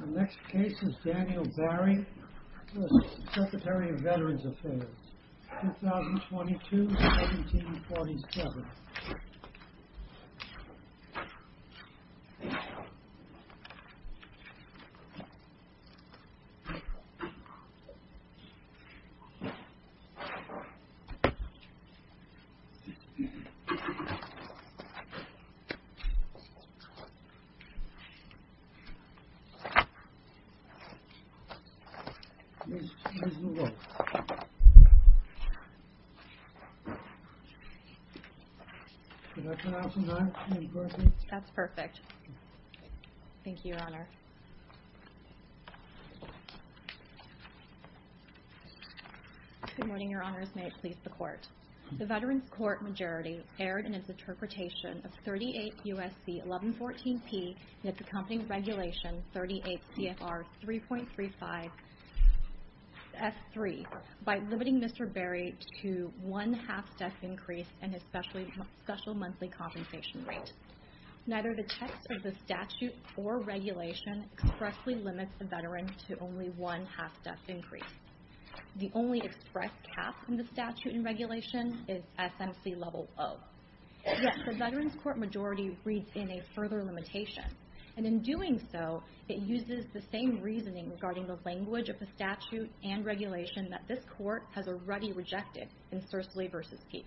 The next case is Daniel Barry, U.S. Secretary of Veterans Affairs, 2022-1747. Daniel Barry, U.S. Secretary of Veterans Affairs, 2022-1747 Good morning, Your Honors. May it please the Court. The Veterans Court majority erred in its interpretation of 38 U.S.C. 1114P in its accompanying Regulation 38 CFR 3.35 S.3. by limiting Mr. Barry to one half-deck increase in his special monthly compensation rate. Neither the text of the statute or regulation expressly limits the veteran to only one half-deck increase. The only expressed cap in the statute and regulation is SMC level 0. Yet, the Veterans Court majority reads in a further limitation. And in doing so, it uses the same reasoning regarding the language of the statute and regulation that this Court has already rejected in Sursley v. Peek.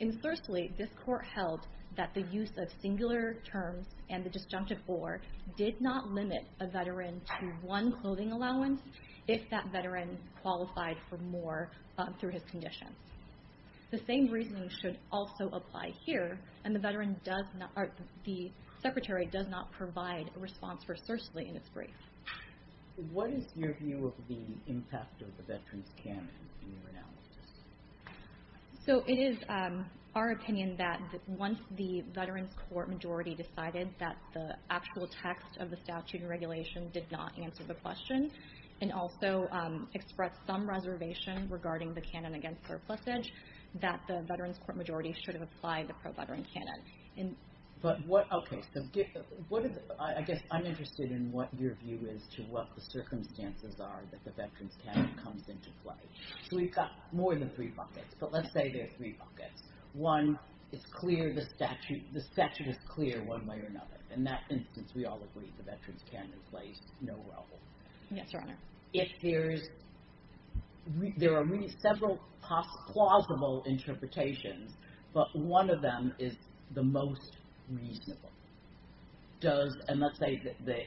In Sursley, this Court held that the use of singular terms and the disjunctive or did not limit a veteran to one clothing allowance if that veteran qualified for more through his condition. The same reasoning should also apply here, and the Secretary does not provide a response for Sursley in its brief. What is your view of the impact of the Veterans Canon in your analysis? So it is our opinion that once the Veterans Court majority decided that the actual text of the statute and regulation did not answer the question and also expressed some reservation regarding the canon against surplusage, that the Veterans Court majority should have applied the pro-veteran canon. But what, okay, so I guess I'm interested in what your view is to what the circumstances are that the Veterans Canon comes into play. So we've got more than three buckets, but let's say there are three buckets. One, the statute is clear one way or another. In that instance, we all agree the Veterans Canon plays no role. Yes, Your Honor. If there are several plausible interpretations, but one of them is the most reasonable. And let's say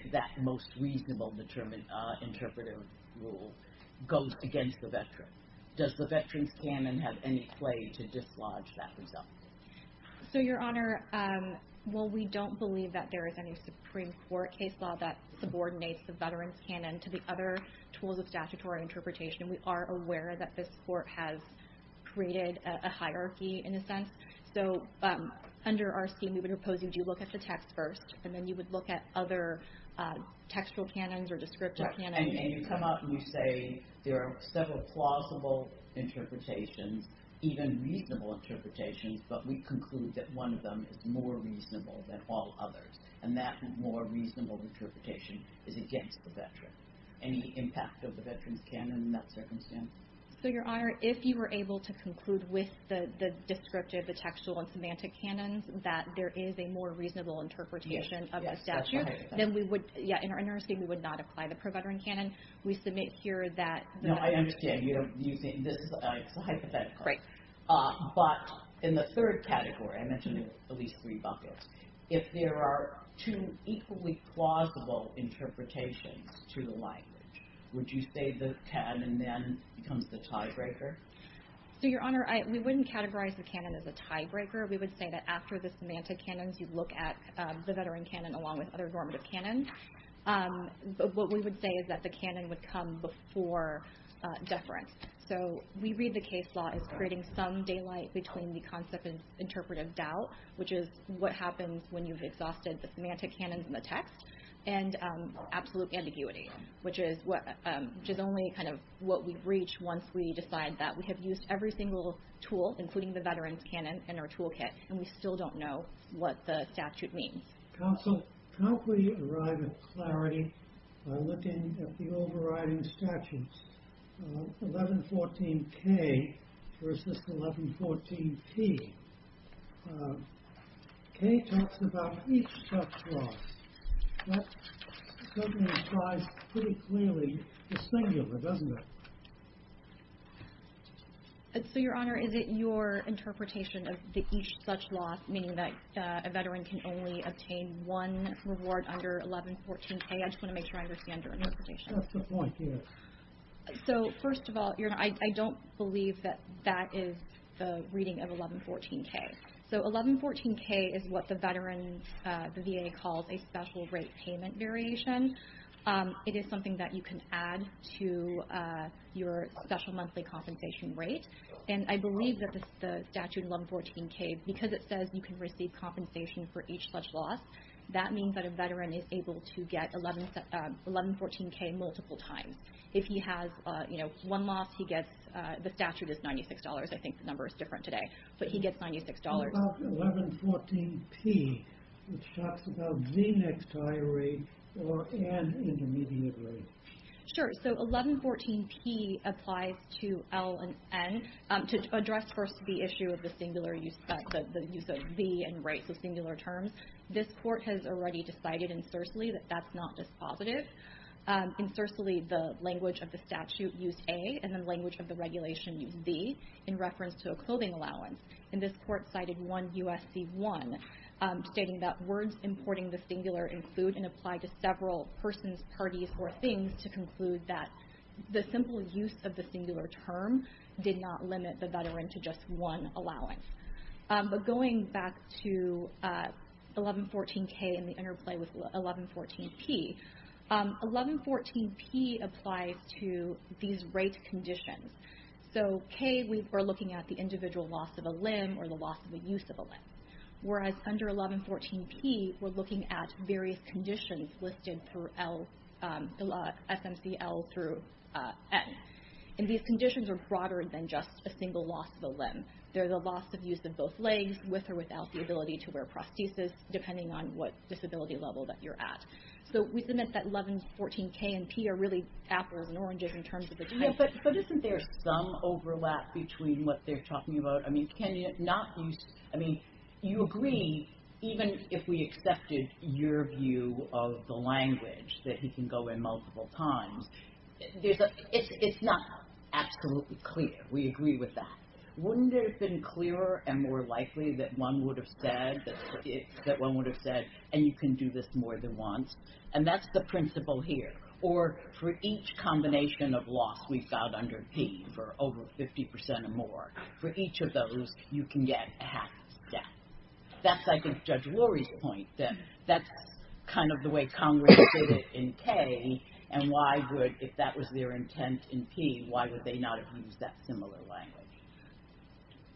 that most reasonable interpretive rule goes against the veteran. Does the Veterans Canon have any play to dislodge that result? So, Your Honor, while we don't believe that there is any Supreme Court case law that subordinates the Veterans Canon to the other tools of statutory interpretation, we are aware that this court has created a hierarchy in a sense. So under our scheme, we would propose you do look at the text first, and then you would look at other textual canons or descriptive canons. And you come up and you say there are several plausible interpretations, even reasonable interpretations, but we conclude that one of them is more reasonable than all others. And that more reasonable interpretation is against the veteran. Any impact of the Veterans Canon in that circumstance? So, Your Honor, if you were able to conclude with the descriptive, the textual, and semantic canons that there is a more reasonable interpretation of a statute, then we would, yeah, in our scheme, we would not apply the pro-veteran canon. We submit here that— No, I understand. You're using—this is a hypothetical. Right. But in the third category, I mentioned at least three buckets, if there are two equally plausible interpretations to the language, would you say the canon then becomes the tiebreaker? So, Your Honor, we wouldn't categorize the canon as a tiebreaker. We would say that after the semantic canons, you'd look at the veteran canon along with other normative canons. But what we would say is that the canon would come before deference. So we read the case law as creating some daylight between the concept of interpretive doubt, which is what happens when you've exhausted the semantic canons in the text, and absolute ambiguity, which is only kind of what we've reached once we decide that we have used every single tool, including the veterans canon, in our toolkit, and we still don't know what the statute means. Counsel, how can we arrive at clarity by looking at the overriding statutes? 1114K versus 1114P. K talks about each such law. That certainly applies pretty clearly to singular, doesn't it? So, Your Honor, is it your interpretation of the each such law, meaning that a veteran can only obtain one reward under 1114K? I just want to make sure I understand your interpretation. That's the point, yes. So, first of all, Your Honor, I don't believe that that is the reading of 1114K. So 1114K is what the VA calls a special rate payment variation. It is something that you can add to your special monthly compensation rate. And I believe that the statute 1114K, because it says you can receive compensation for each such law, that means that a veteran is able to get 1114K multiple times. If he has one loss, the statute is $96. I think the number is different today, but he gets $96. What about 1114P, which talks about the next higher rate or an intermediate rate? Sure. So 1114P applies to L and N. To address first the issue of the singular use of V and rates of singular terms, this Court has already decided in Sersely that that's not dispositive. In Sersely, the language of the statute used A, and the language of the regulation used V in reference to a clothing allowance. And this Court cited 1 U.S.C. 1 stating that words importing the singular include and apply to several persons, parties, or things to conclude that the simple use of the singular term did not limit the veteran to just one allowance. But going back to 1114K and the interplay with 1114P, 1114P applies to these rate conditions. So K, we're looking at the individual loss of a limb or the loss of the use of a limb. Whereas under 1114P, we're looking at various conditions listed through SMCL through N. And these conditions are broader than just a single loss of a limb. There's a loss of use of both legs with or without the ability to wear prosthesis, depending on what disability level that you're at. So we submit that 1114K and P are really apples and oranges in terms of the type. But isn't there some overlap between what they're talking about? I mean, can you not use, I mean, you agree, even if we accepted your view of the language that he can go in multiple times, it's not absolutely clear. We agree with that. Wouldn't it have been clearer and more likely that one would have said, that one would have said, and you can do this more than once? And that's the principle here. Or for each combination of loss we've got under P for over 50% or more, for each of those, you can get a half step. That's, I think, Judge Lurie's point, that that's kind of the way Congress did it in K. And why would, if that was their intent in P, why would they not have used that similar language?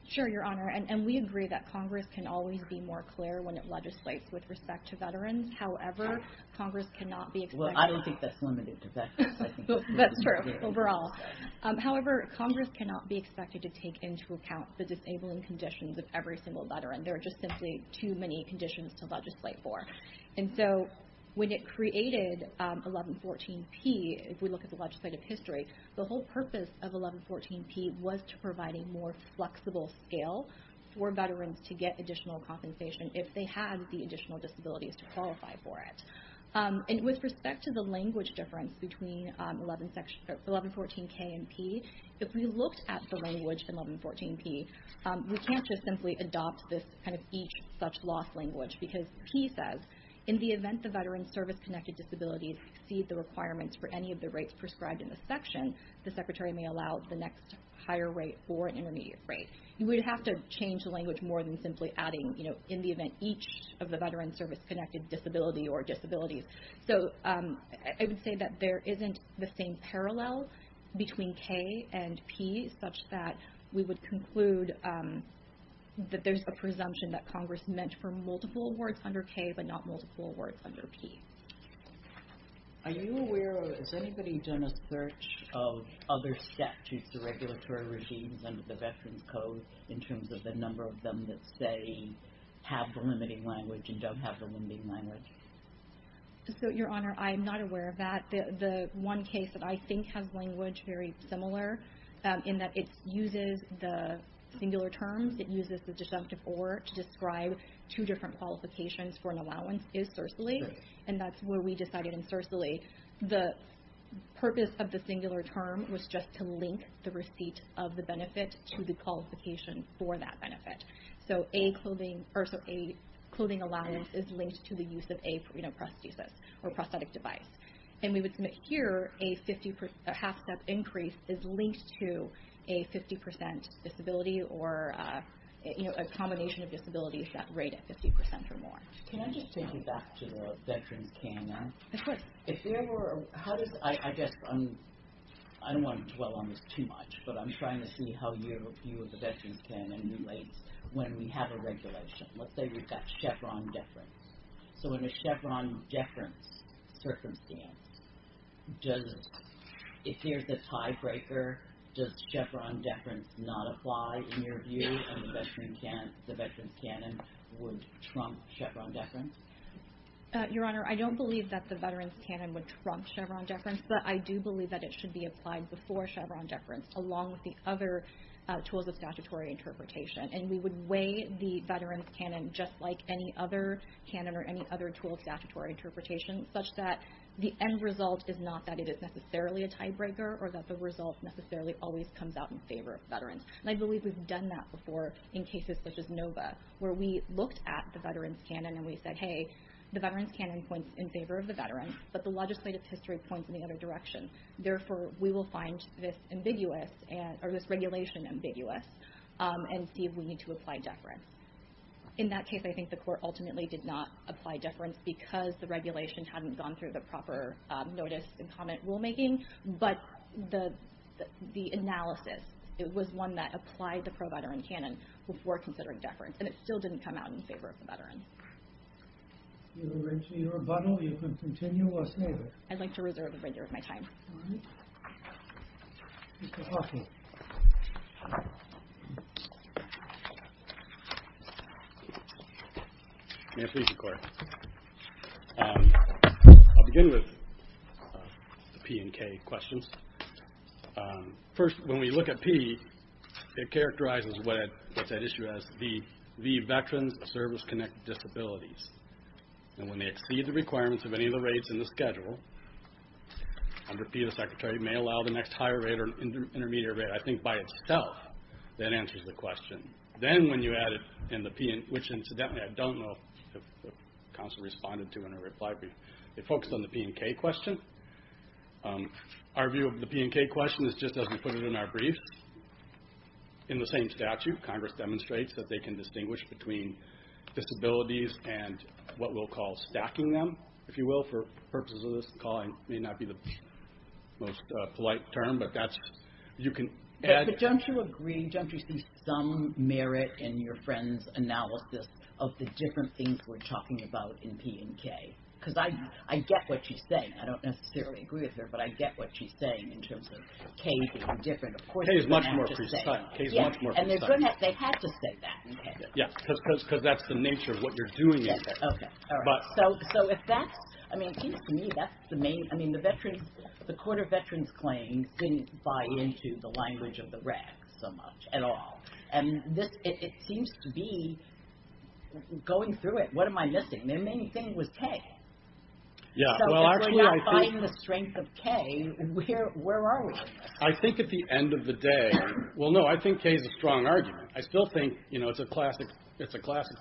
Sure, Your Honor. And we agree that Congress can always be more clear when it legislates with respect to veterans. However, Congress cannot be expected to- Well, I don't think that's limited to veterans. That's true, overall. However, Congress cannot be expected to take into account the disabling conditions of every single veteran. There are just simply too many conditions to legislate for. And so when it created 1114P, if we look at the legislative history, the whole purpose of 1114P was to provide a more flexible scale for veterans to get additional compensation if they had the additional disabilities to qualify for it. And with respect to the language difference between 1114K and P, if we looked at the language in 1114P, we can't just simply adopt this, kind of, each such loss language. Because P says, in the event the veteran's service-connected disabilities exceed the requirements for any of the rates prescribed in this section, the Secretary may allow the next higher rate or intermediate rate. You would have to change the language more than simply adding, you know, in the event each of the veteran's service-connected disability or disabilities. So I would say that there isn't the same parallel between K and P, such that we would conclude that there's a presumption that Congress meant for multiple awards under K, but not multiple awards under P. Are you aware of- has anybody done a search of other statutes or regulatory regimes under the Veterans Code in terms of the number of them that, say, have the limiting language and don't have the limiting language? So, Your Honor, I'm not aware of that. The one case that I think has language very similar, in that it uses the singular terms, it uses the deductive or to describe two different qualifications for an allowance, is Cercily. And that's where we decided in Cercily the purpose of the singular term was just to link the receipt of the benefit to the qualification for that benefit. So a clothing allowance is linked to the use of a prosthesis or prosthetic device. And we would submit here a half-step increase is linked to a 50% disability or a combination of disabilities that rate at 50% or more. Can I just take you back to the Veterans' K and M? Of course. If there were- how does- I guess I'm- I don't want to dwell on this too much, but I'm trying to see how your view of the Veterans' K and M relates when we have a regulation. Let's say we've got Chevron deference. So in a Chevron deference circumstance, does- if there's a tiebreaker, does Chevron deference not apply in your view and the Veterans' K and M would trump Chevron deference? Your Honor, I don't believe that the Veterans' K and M would trump Chevron deference, but I do believe that it should be applied before Chevron deference along with the other tools of statutory interpretation. And we would weigh the Veterans' K and M just like any other K and M or any other tool of statutory interpretation, such that the end result is not that it is necessarily a tiebreaker or that the result necessarily always comes out in favor of Veterans. And I believe we've done that before in cases such as Nova, where we looked at the Veterans' K and M and we said, hey, the Veterans' K and M points in favor of the Veterans, but the legislative history points in the other direction. Therefore, we will find this ambiguous and- or this regulation ambiguous and see if we need to apply deference. In that case, I think the Court ultimately did not apply deference because the regulation hadn't gone through the proper notice and comment rulemaking, but the analysis, it was one that applied the pro-Veterans' K and M before considering deference, and it still didn't come out in favor of the Veterans. If you would like to need a rebuttal, you can continue or stay there. I'd like to reserve the remainder of my time. All right. Mr. Hoffman. May I please, Your Court? I'll begin with the P and K questions. First, when we look at P, it characterizes what's at issue as the Veterans' service-connected disabilities, and when they exceed the requirements of any of the rates in the schedule, under P, the Secretary may allow the next higher rate or intermediate rate, I think by itself, that answers the question. Then when you add it in the P, which incidentally I don't know if counsel responded to in a reply brief, it focused on the P and K question. Our view of the P and K question is just as we put it in our briefs. In the same statute, Congress demonstrates that they can distinguish between disabilities and what we'll call stacking them, if you will. For purposes of this calling, it may not be the most polite term, but you can add. But don't you agree, don't you see some merit in your friend's analysis of the different things we're talking about in P and K? Because I get what she's saying. I don't necessarily agree with her, but I get what she's saying in terms of K being different. Of course, they have to say that. K is much more precise. K is much more precise. And they have to say that in K. Yes, because that's the nature of what you're doing in K. Okay, all right. So if that's, I mean, it seems to me that's the main, I mean, the veterans, the Court of Veterans Claims didn't buy into the language of the RAC so much at all. And this, it seems to be going through it, what am I missing? The main thing was K. So if we're not finding the strength of K, where are we? I think at the end of the day, well, no, I think K is a strong argument. I still think, you know, it's a classic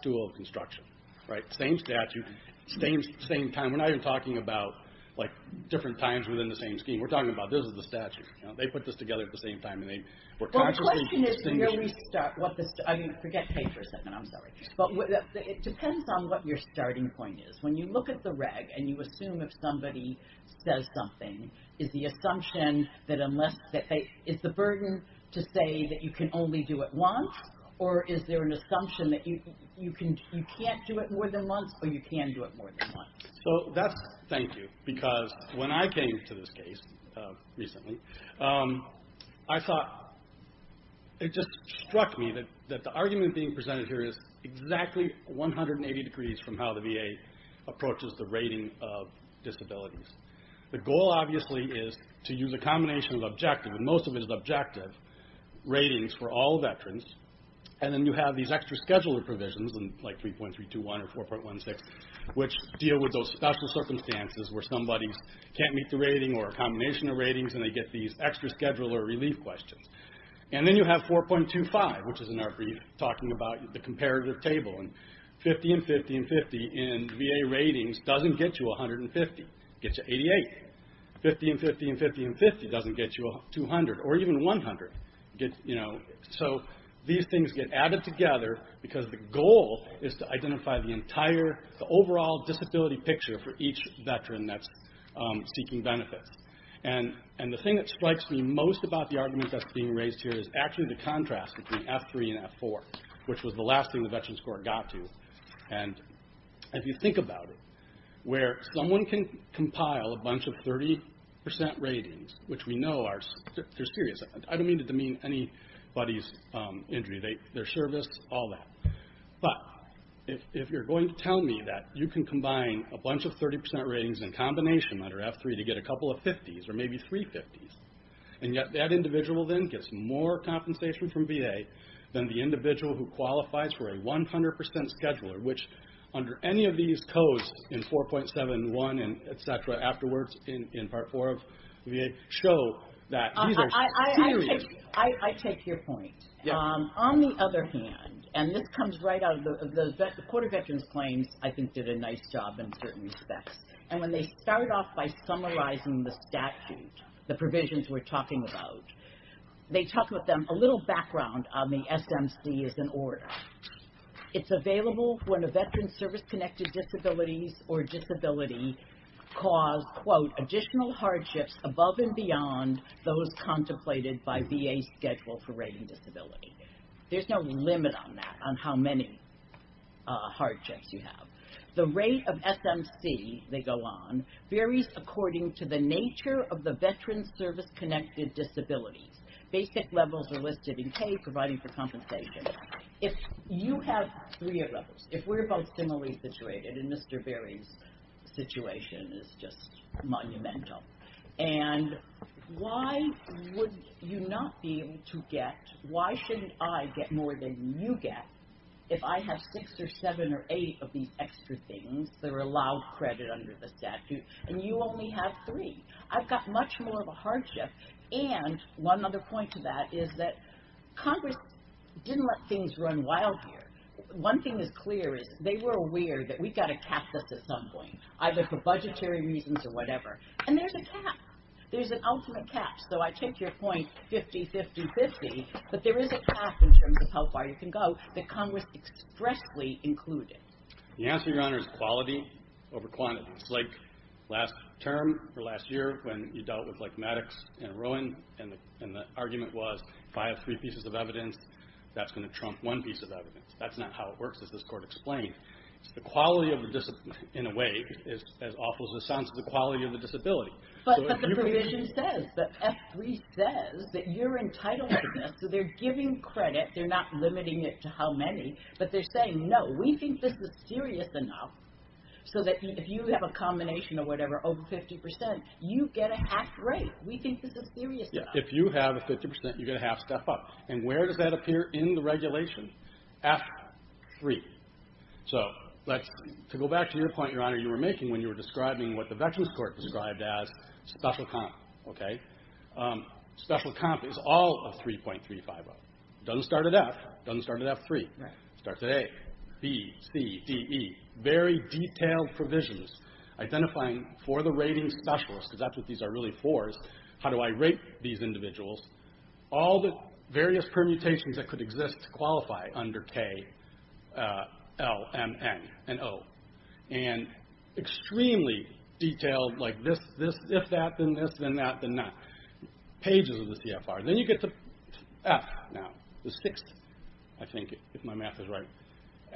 tool of construction, right? Same statute, same time. We're not even talking about, like, different times within the same scheme. We're talking about this is the statute. They put this together at the same time, and they were consciously distinguishing. Well, the question is, where do we start? I mean, forget K for a second, I'm sorry. But it depends on what your starting point is. When you look at the reg, and you assume if somebody says something, is the assumption that unless, is the burden to say that you can only do it once? Or is there an assumption that you can't do it more than once, or you can do it more than once? So that's, thank you, because when I came to this case recently, I thought, it just struck me that the argument being presented here is exactly 180 degrees from how the VA approaches the rating of disabilities. The goal, obviously, is to use a combination of objective, and most of it is objective, ratings for all veterans. And then you have these extra scheduler provisions, like 3.321 or 4.16, which deal with those special circumstances where somebody can't meet the rating or a combination of ratings, and they get these extra scheduler relief questions. And then you have 4.25, which is in our brief, talking about the comparative table. And 50 and 50 and 50 in VA ratings doesn't get you 150. It gets you 88. 50 and 50 and 50 and 50 doesn't get you 200, or even 100. So these things get added together because the goal is to identify the entire, the overall disability picture for each veteran that's seeking benefits. And the thing that strikes me most about the argument that's being raised here is actually the contrast between F3 and F4, which was the last thing the Veterans Court got to. And if you think about it, where someone can compile a bunch of 30% ratings, which we know are serious. I don't mean to demean anybody's injury, their service, all that. But if you're going to tell me that you can combine a bunch of 30% ratings in combination under F3 to get a couple of 50s, or maybe three 50s. And yet that individual then gets more compensation from VA than the individual who qualifies for a 100% scheduler, which under any of these codes in 4.71 and et cetera, afterwards in Part 4 of VA, show that these are serious. I take your point. On the other hand, and this comes right out of the, the Court of Veterans Claims, I think, did a nice job in certain respects. And when they start off by summarizing the statute, the provisions we're talking about, they talk with them a little background on the SMC as an order. It's available when a veteran's service-connected disabilities or disability caused, quote, additional hardships above and beyond those contemplated by VA's schedule for rating disability. There's no limit on that, on how many hardships you have. The rate of SMC, they go on, varies according to the nature of the veteran's service-connected disabilities. Basic levels are listed in K, providing for compensation. If you have three of those, if we're both similarly situated, and Mr. Berry's situation is just monumental, and why would you not be able to get, why shouldn't I get more than you get if I have six or seven or eight of these extra things that are allowed credit under the statute, and you only have three? I've got much more of a hardship. And one other point to that is that Congress didn't let things run wild here. One thing is clear is they were aware that we've got to cap this at some point, either for budgetary reasons or whatever. And there's a cap. There's an ultimate cap. So I take your point, 50-50-50, but there is a cap in terms of how far you can go that Congress expressly included. The answer, Your Honor, is quality over quantity. It's like last term or last year when you dealt with Maddox and Rowan, and the argument was if I have three pieces of evidence, that's going to trump one piece of evidence. That's not how it works, as this Court explained. The quality of the disability, in a way, is as awful as it sounds, the quality of the disability. But the provision says, the F3 says, that you're entitled to this, so they're giving credit. They're not limiting it to how many, but they're saying, no, we think this is serious enough so that if you have a combination of whatever, over 50%, you get a half rate. We think this is serious enough. If you have a 50%, you get a half step up. And where does that appear in the regulation? F3. So to go back to your point, Your Honor, you were making when you were describing what the Veterans Court described as special comp. Special comp is all of 3.350. Doesn't start at F, doesn't start at F3. Starts at A, B, C, D, E. Very detailed provisions identifying for the rating specialists, because that's what these are really for, is how do I rate these individuals? All the various permutations that could exist to qualify under K, L, M, N, and O. And extremely detailed, like this, this, if that, then this, then that, then that. Pages of the CFR. Then you get to F, now, the sixth, I think, if my math is right.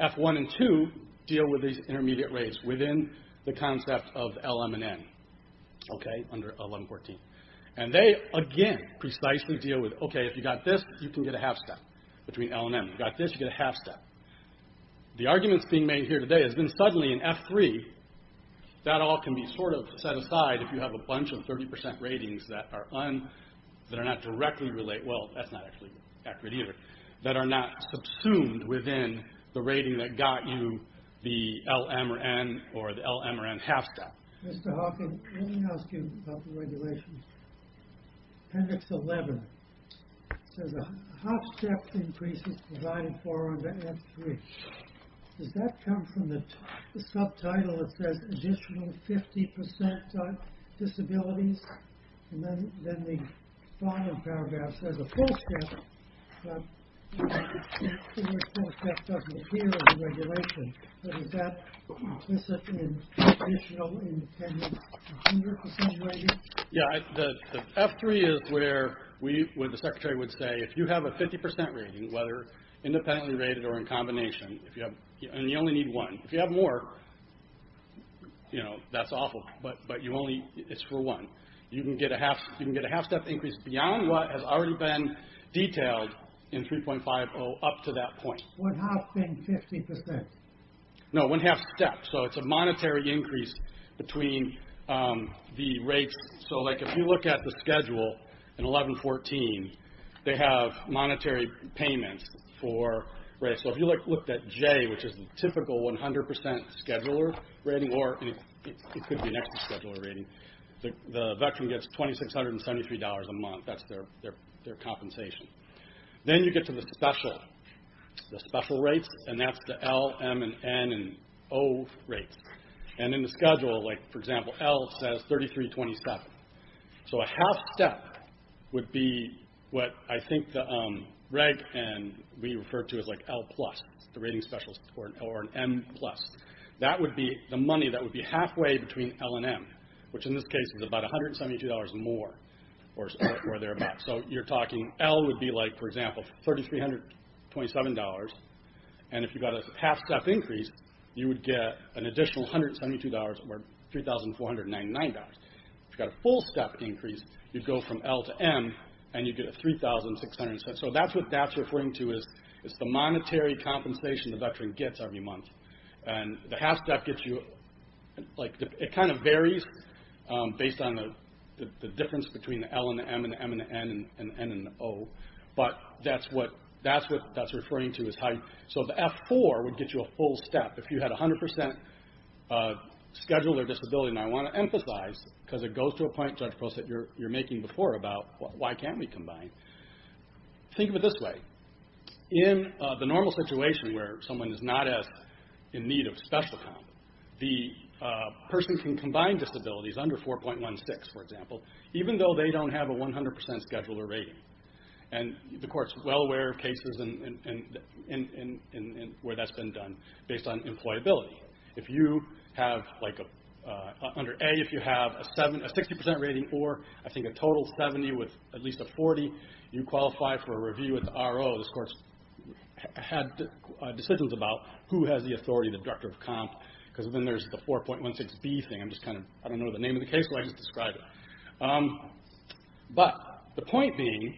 F1 and 2 deal with these intermediate rates within the concept of L, M, and N, okay, under 1114. And they, again, precisely deal with, okay, if you got this, you can get a half step between L and N. If you got this, you get a half step. The arguments being made here today has been suddenly in F3, that all can be sort of set aside if you have a bunch of 30% ratings that are not directly related, well, that's not actually accurate either, that are not subsumed within the rating that got you the L, M, or N, or the L, M, or N half step. Mr. Hawking, let me ask you about the regulations. Appendix 11 says a half step increase is provided for under F3. Does that come from the subtitle that says additional 50% disabilities? And then the bottom paragraph says a full step, but the full step doesn't appear in the regulation. But is that implicit in additional independent 100% ratings? Yeah, the F3 is where the secretary would say if you have a 50% rating, whether independently rated or in combination, and you only need one. If you have more, that's awful, but it's for one. You can get a half step increase beyond what has already been detailed in 3.50 up to that point. One half being 50%? No, one half step, so it's a monetary increase between the rates. So if you look at the schedule in 11.14, they have monetary payments for rates. So if you looked at J, which is the typical 100% scheduler rating, or it could be an extra scheduler rating, the veteran gets $2,673 a month. That's their compensation. Then you get to the special rates, and that's the L, M, N, and O rates. And in the schedule, like for example, L says 3,327. So a half step would be what I think the reg. and we refer to as L+, the rating specialist, or an M+. That would be the money that would be halfway between L and M, which in this case is about $172 more or thereabouts. So you're talking L would be like, for example, $3,327, and if you got a half step increase, you would get an additional $172, or $3,499. If you got a full step increase, you'd go from L to M, and you'd get a $3,600. So that's what that's referring to, is the monetary compensation the veteran gets every month. And the half step gets you, it kind of varies based on the difference between the L and the M, and the M and the N, and the N and the O, but that's what that's referring to. So the F4 would get you a full step. If you had 100% scheduler disability, and I want to emphasize, because it goes to a point, Judge Prost, that you're making before about, why can't we combine? Think of it this way. In the normal situation where someone is not in need of special comp, the person can combine disabilities under 4.16, for example, even though they don't have a 100% scheduler rating. And the court's well aware of cases where that's been done based on employability. If you have, under A, if you have a 60% rating, or I think a total 70 with at least a 40, you qualify for a review with the RO. This court's had decisions about who has the authority, the director of comp, because then there's the 4.16B thing. I don't know the name of the case, but I just described it. But the point being,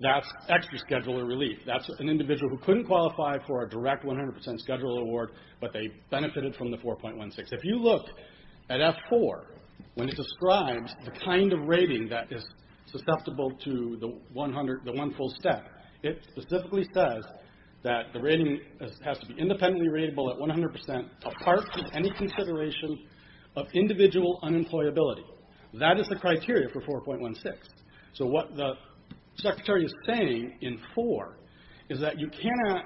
that's extra scheduler relief. That's an individual who couldn't qualify for a direct 100% scheduler award, but they benefited from the 4.16. If you look at F4, when it describes the kind of rating that is susceptible to the one full step, it specifically says that the rating has to be independently rateable at 100% apart from any consideration of individual unemployability. That is the criteria for 4.16. So what the secretary is saying in 4 is that you cannot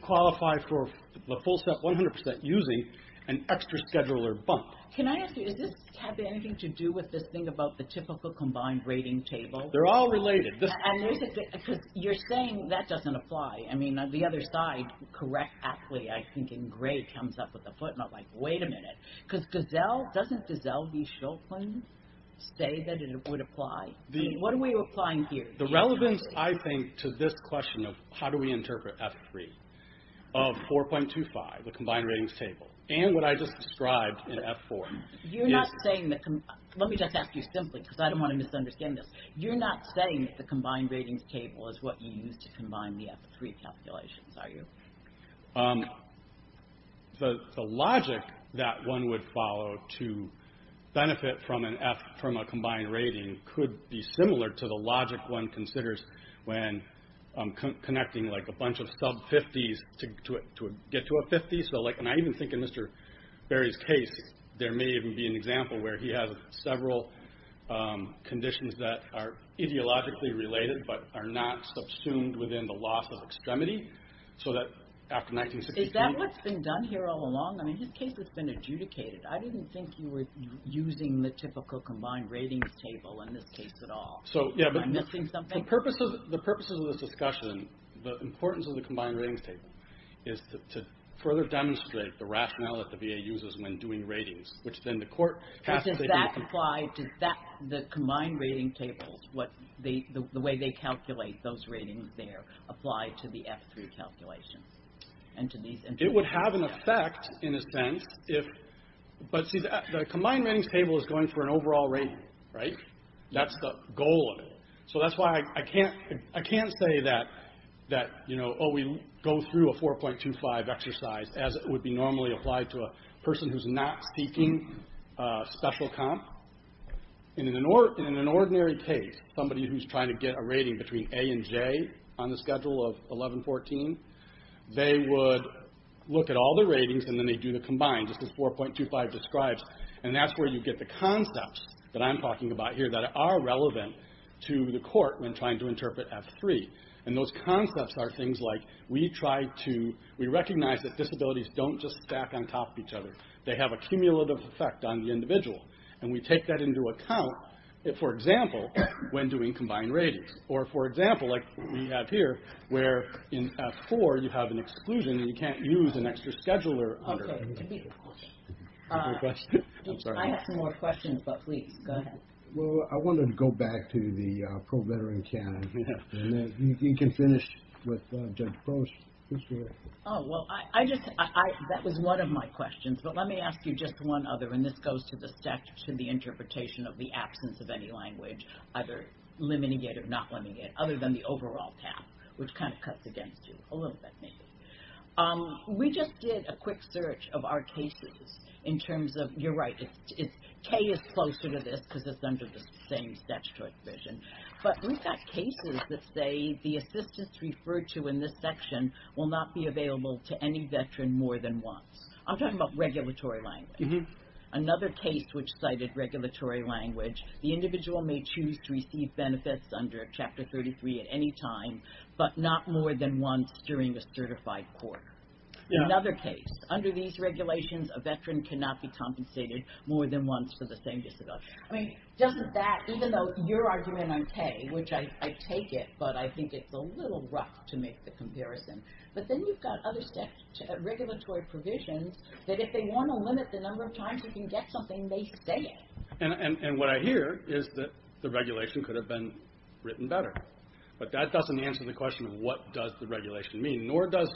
qualify for a full step 100% using an extra scheduler bump. Can I ask you, does this have anything to do with this thing about the typical combined rating table? They're all related. You're saying that doesn't apply. I mean, on the other side, correct athlete, I think in gray, comes up with a footnote like, wait a minute, doesn't Giselle B. Shulkin say that it would apply? What are we applying here? The relevance, I think, to this question of how do we interpret F3 of 4.25, the combined ratings table, and what I just described in F4. You're not saying that, let me just ask you simply, because I don't want to misunderstand this. You're not saying that the combined ratings table is what you use to combine the F3 calculations, are you? The logic that one would follow to benefit from a combined rating could be similar to the logic one considers when connecting a bunch of sub-50s to get to a 50. I even think in Mr. Berry's case, there may even be an example where he has several conditions that are ideologically related but are not subsumed within the loss of extremity. Is that what's been done here all along? I mean, his case has been adjudicated. I didn't think you were using the typical combined ratings table in this case at all. Am I missing something? The purposes of this discussion, the importance of the combined ratings table is to further demonstrate the rationale that the VA uses when doing ratings, which then the court... But does that apply, does the combined rating tables, the way they calculate those ratings there, apply to the F3 calculations? It would have an effect, in a sense, but see, the combined ratings table is going for an overall rating, right? That's the goal of it. So that's why I can't say that, oh, we go through a 4.25 exercise as it would be normally applied to a person who's not seeking special comp. In an ordinary case, somebody who's trying to get a rating between A and J on the schedule of 11-14, they would look at all the ratings and then they do the combined, just as 4.25 describes, and that's where you get the concepts that I'm talking about here that are relevant to the court when trying to interpret F3. And those concepts are things like we recognize that disabilities don't just stack on top of each other. They have a cumulative effect on the individual. And we take that into account, for example, when doing combined ratings. Or, for example, like we have here, where in F4 you have an exclusion and you can't use an extra scheduler... Okay, give me the question. I'm sorry. I have some more questions, but please, go ahead. Well, I wanted to go back to the pro-veteran canon. You can finish with Judge Post. Oh, well, that was one of my questions, but let me ask you just one other, and this goes to the interpretation of the absence of any language, either limiting it or not limiting it, other than the overall path, which kind of cuts against you, a little bit, maybe. We just did a quick search of our cases in terms of, you're right, K is closer to this because it's under the same statutory provision. But we've got cases that say the assistance referred to in this section will not be available to any veteran more than once. I'm talking about regulatory language. Another case which cited regulatory language, the individual may choose to receive benefits under Chapter 33 at any time, but not more than once during a certified court. Another case, under these regulations, a veteran cannot be compensated more than once for the same disability. I mean, doesn't that, even though your argument on K, which I take it, but I think it's a little rough to make the comparison, but then you've got other statutory, regulatory provisions that if they want to limit the number of times you can get something, they say it. And what I hear is that the regulation could have been written better, but that doesn't answer the question of what does the regulation mean, nor does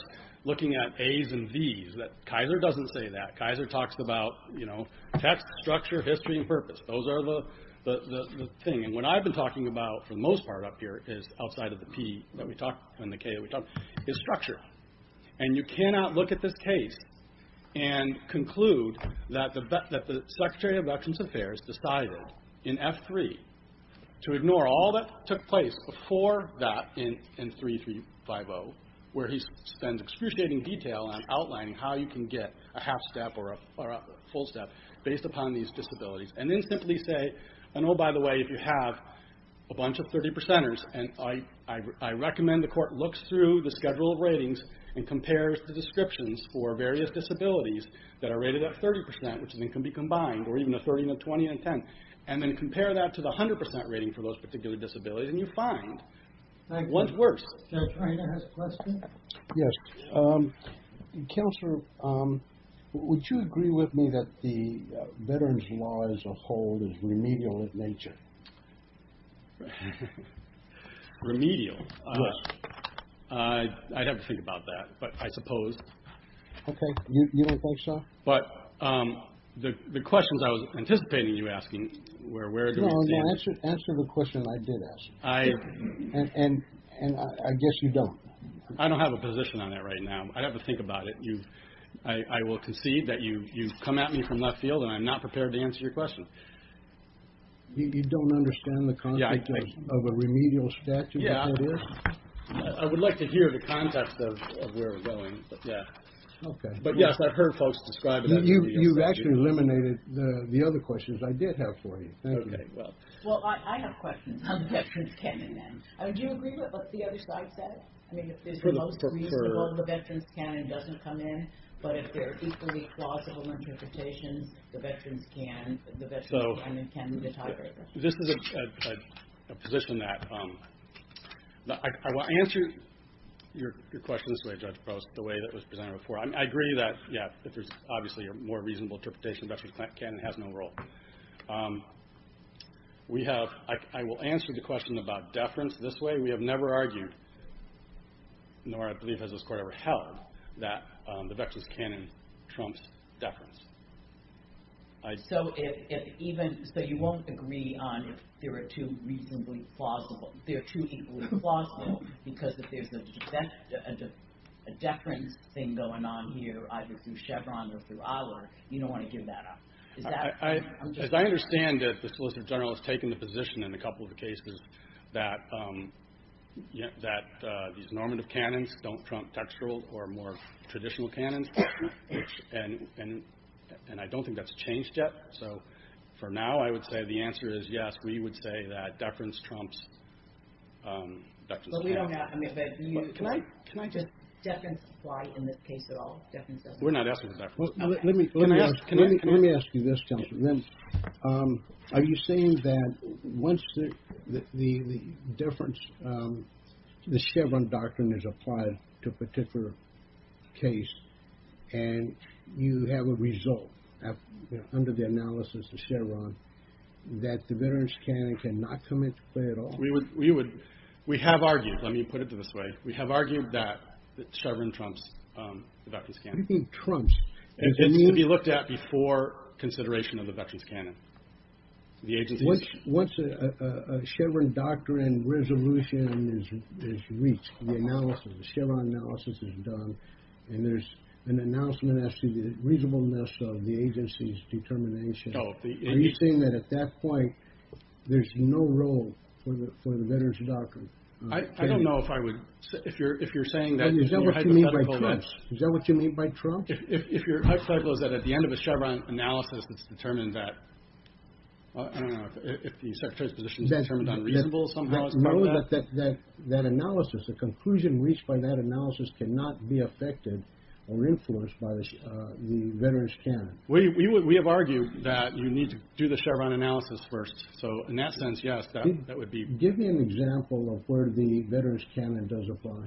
looking at A's and B's, is that Kaiser doesn't say that. Kaiser talks about, you know, text, structure, history, and purpose. Those are the thing. And what I've been talking about for the most part up here is outside of the P that we talked, and the K that we talked, is structure. And you cannot look at this case and conclude that the Secretary of Veterans Affairs decided in F3 to ignore all that took place before that in 3350, where he spends excruciating detail on outlining how you can get a half-step or a full-step based upon these disabilities. And then simply say, and oh, by the way, if you have a bunch of 30 percenters, and I recommend the court looks through the schedule of ratings and compares the descriptions for various disabilities that are rated at 30 percent, which then can be combined, or even a 30 and a 20 and a 10, and then compare that to the 100 percent rating for those particular disabilities, and you find one's worse. Judge Reina has a question. Yes. Counselor, would you agree with me that the veterans' law as a whole is remedial in nature? Remedial? Yes. I'd have to think about that, but I suppose. Okay. You don't think so? But the questions I was anticipating you asking were where do we stand? No, answer the question I did ask. And I guess you don't. I don't have a position on that right now. I'd have to think about it. I will concede that you come at me from left field, and I'm not prepared to answer your question. You don't understand the concept of a remedial statute? Yeah. I would like to hear the context of where we're going, but yeah. Okay. But yes, I've heard folks describe it as a remedial statute. You've actually eliminated the other questions I did have for you. Thank you. Well, I have questions. Do you agree with what the other side said? I mean, if it's the most reasonable, the Veterans' Canon doesn't come in, but if they're equally plausible interpretations, the Veterans' Canon can be the tiebreaker. This is a position that I will answer your question this way, Judge Post, the way it was presented before. I agree that, yeah, if there's obviously a more reasonable interpretation, Veterans' Canon has no role. I will answer the question about deference this way. We have never argued, nor I believe has this court ever held, that the Veterans' Canon trumps deference. So you won't agree on if they're too reasonably plausible. They're too equally plausible because if there's a deference thing going on here, either through Chevron or through our, you don't want to give that up. As I understand it, the Solicitor General has taken the position in a couple of the cases that these normative canons don't trump textual or more traditional canons. And I don't think that's changed yet. So for now, I would say the answer is yes, we would say that deference trumps Veterans' Canon. can I just, deference apply in this case at all? We're not asking for deference. Let me ask you this, Counselor. Are you saying that once the deference, the Chevron doctrine is applied to a particular case and you have a result under the analysis of Chevron that the Veterans' Canon cannot come into play at all? We would, we have argued, let me put it this way, we have argued that Chevron trumps the Veterans' Canon. What do you mean trumps? It needs to be looked at before consideration of the Veterans' Canon. Once a Chevron doctrine resolution is reached, the analysis, the Chevron analysis is done, and there's an announcement as to the reasonableness of the agency's determination, are you saying that at that point there's no role for the Veterans' Doctrine? I don't know if I would, if you're saying that in your hypothetical sense. Is that what you mean by trumps? If your hypothetical is that at the end of a Chevron analysis it's determined that, I don't know, if the secretary's position is determined unreasonable somehow as part of that. No, that analysis, the conclusion reached by that analysis cannot be affected or influenced by the Veterans' Canon. We have argued that you need to do the Chevron analysis first, so in that sense, yes, that would be. Give me an example of where the Veterans' Canon does apply.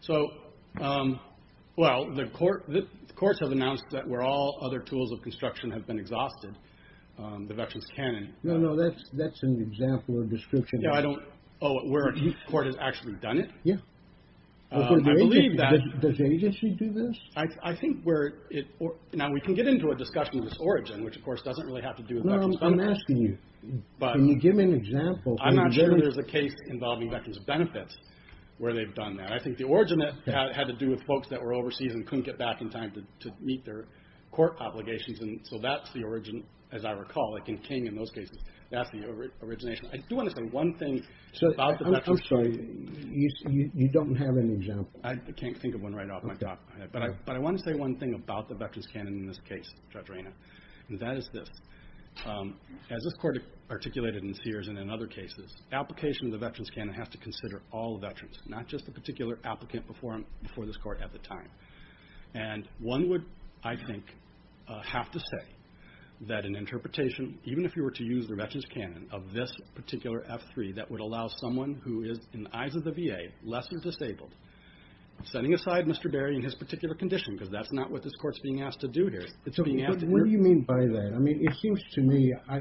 So, well, the courts have announced that where all other tools of construction have been exhausted, the Veterans' Canon. No, no, that's an example or description. No, I don't, oh, where a court has actually done it? Yeah. I believe that. Does the agency do this? I think where it, now we can get into a discussion of this origin, which of course doesn't really have to do with Veterans' benefits. No, I'm asking you. Can you give me an example? I'm not sure there's a case involving Veterans' benefits where they've done that. I think the origin that had to do with folks that were overseas and couldn't get back in time to meet their court obligations and so that's the origin, as I recall, like in King in those cases, that's the origination. I do want to say one thing about the Veterans' Canon. I'm sorry, you don't have an example. I can't think of one right off my top of my head, but I want to say one thing about the Veterans' Canon in this case, Judge Rayner, As this court articulated in its years and in other cases, application of the Veterans' Canon has to consider all veterans, not just the particular applicant before this court at the time. And one would, I think, have to say that an interpretation, even if you were to use the Veterans' Canon, of this particular F3 that would allow someone who is, in the eyes of the VA, less than disabled, setting aside Mr. Berry in his particular condition because that's not what this court's being asked to do here. What do you mean by that? I mean, it seems to me, I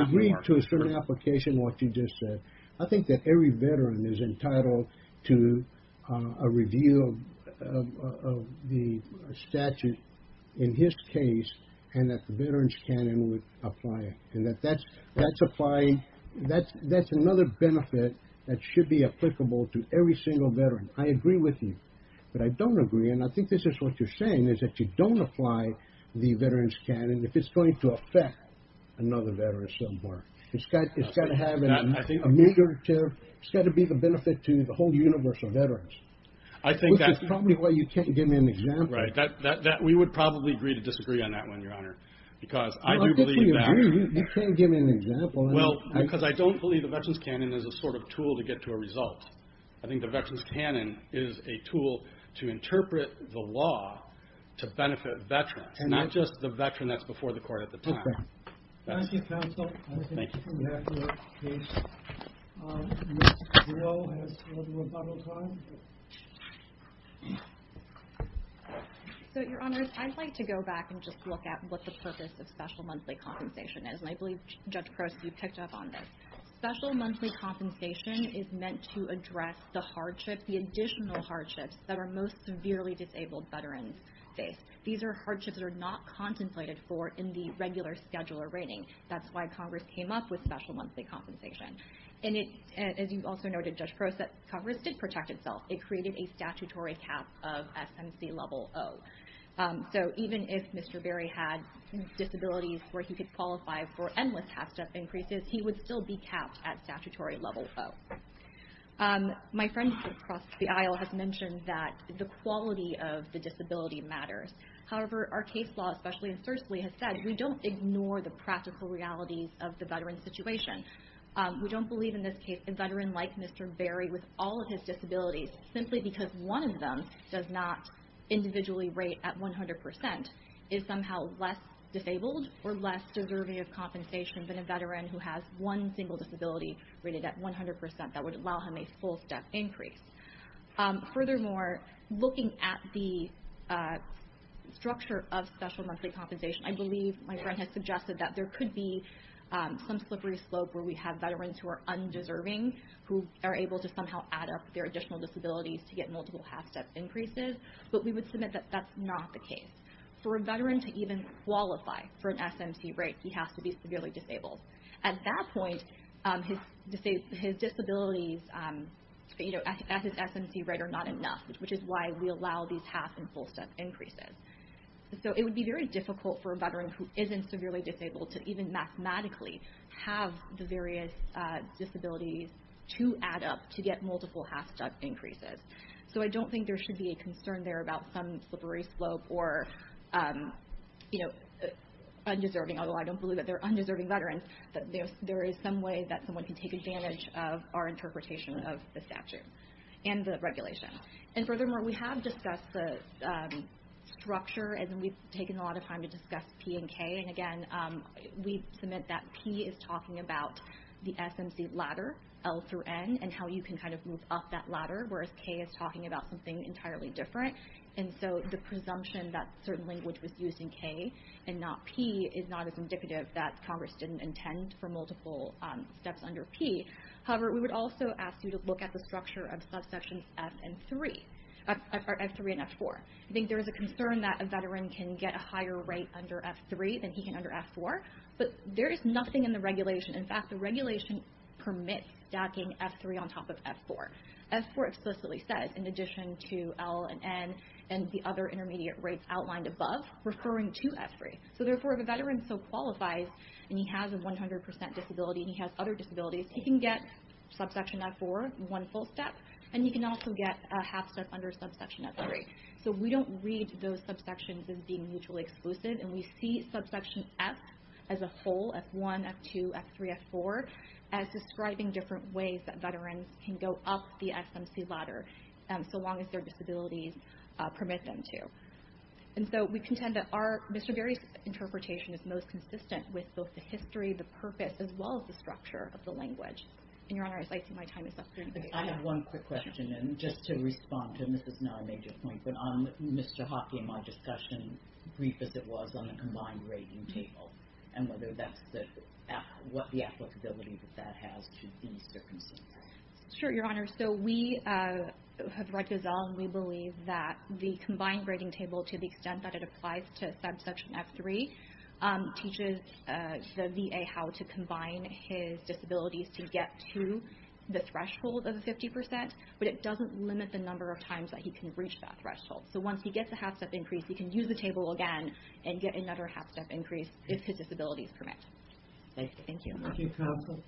agree to a certain application of what you just said. I think that every veteran is entitled to a reasonable review of the statute in his case and that the Veterans' Canon would apply it. And that that's applying, that's another benefit that should be applicable to every single veteran. I agree with you, but I don't agree and I think this is what you're saying is that you don't apply the Veterans' Canon if it's going to affect another veteran somewhere. It's got to have a major, it's got to be the benefit to the whole universe of veterans. Which is probably why you can't give me an example. Right, we would probably agree to disagree on that one, Your Honor, because I do believe that You can't give me an example. Well, because I don't believe the Veterans' Canon is a sort of tool to get to a result. I think the Veterans' Canon is a tool to interpret the law to benefit veterans, not just the veteran that's before the court at the time. Thank you, counsel. Thank you. I think we have to move to Case No. 0 as for the rebuttal time. So, Your Honors, I'd like to go back and just look at what the purpose of special monthly compensation is. And I believe Judge Crouse, you picked up on this. Special monthly compensation is meant to address the hardships, the additional hardships that our most severely for in the regular scheduler rating. That's why Congress came up with the Special Monthly Compensation as a way to address the additional hardships that our most severely have with special monthly compensation. And it, as you also noted, Judge Crouse, that Congress did protect itself. It created a statutory cap of SMC level O. So, even if Mr. Berry had disabilities where he could qualify for endless half-step increases, he would still be capped at statutory level O. My friend across the aisle has mentioned that the quality of the disability matters. However, our case law, especially in Sersely, has said we don't ignore the practical realities of the veteran situation We don't believe in this case a veteran like Mr. Berry with all of his disabilities simply because one of them does not individually rate at 100% is somehow less disabled or less deserving of compensation than a veteran who has one single disability rated at 100% that would allow him a full-step increase. Furthermore, looking at the structure of special monthly compensation, I believe my friend has suggested that there could be some slippery slope where we have veterans who are undeserving who are able to somehow add up their additional disabilities to get multiple half-step increases but we would submit that that's not the case. For a veteran to even qualify for an SMC rate, he has to be severely disabled. At that point, his disabilities at his SMC rate are not enough which is why we allow these half and full-step increases. It would be very difficult for a veteran who isn't severely disabled to even mathematically have the various disabilities to add up to get multiple half-step increases. I don't think there should be a concern there about some slippery slope or undeserving although I don't believe that they're undeserving veterans but there is some way that someone can take advantage of our interpretation of the statute and the regulation. Furthermore, we have discussed the structure and we've taken a lot of time to discuss P and K and again, we submit that P is talking about the SMC ladder L through N and how you can kind of move up that ladder whereas K is talking about something entirely different and so the presumption that certain language was used in K and not P is not as indicative that Congress didn't intend for multiple steps under P. However, we would also ask you to look at the structure of subsections F and 3 F3 and F4. I think there is a concern that a veteran can get a higher rate under F3 than he can under F4 but there is nothing in the regulation in fact, the regulation permits stacking F3 on top of F4. F4 explicitly says in addition to L and N and the other intermediate rates outlined above referring to F3 so therefore, if a veteran so qualifies and he has a 100% disability and he has other disabilities he can get subsection F4 one full step and he can also get a half step under subsection F3 so we don't read those subsections as being mutually exclusive and we see subsection F as a whole F1 F2 F3 F4 as describing different ways that veterans can go up the SMC ladder so long as their disabilities permit them to and so we contend that our Mr. Gary's interpretation is most consistent with both the history the purpose as well as the structure of the language and your honor I think my time is up I have one quick question and just to respond and this is not a major point but on Mr. Hockey and my discussion brief as it was on the combined grading table and whether that's the what the applicability that that has in this circumstance sure your honor so we have read Gozell and we believe that the combined grading table to the extent that it applies to subsection F3 teaches the VA how to combine his disabilities to get to the threshold of 50% but it doesn't limit the number of times that he can reach that threshold so once he gets a half step increase he can use the table again and get another half step increase if his disabilities permit thank you thank you counsel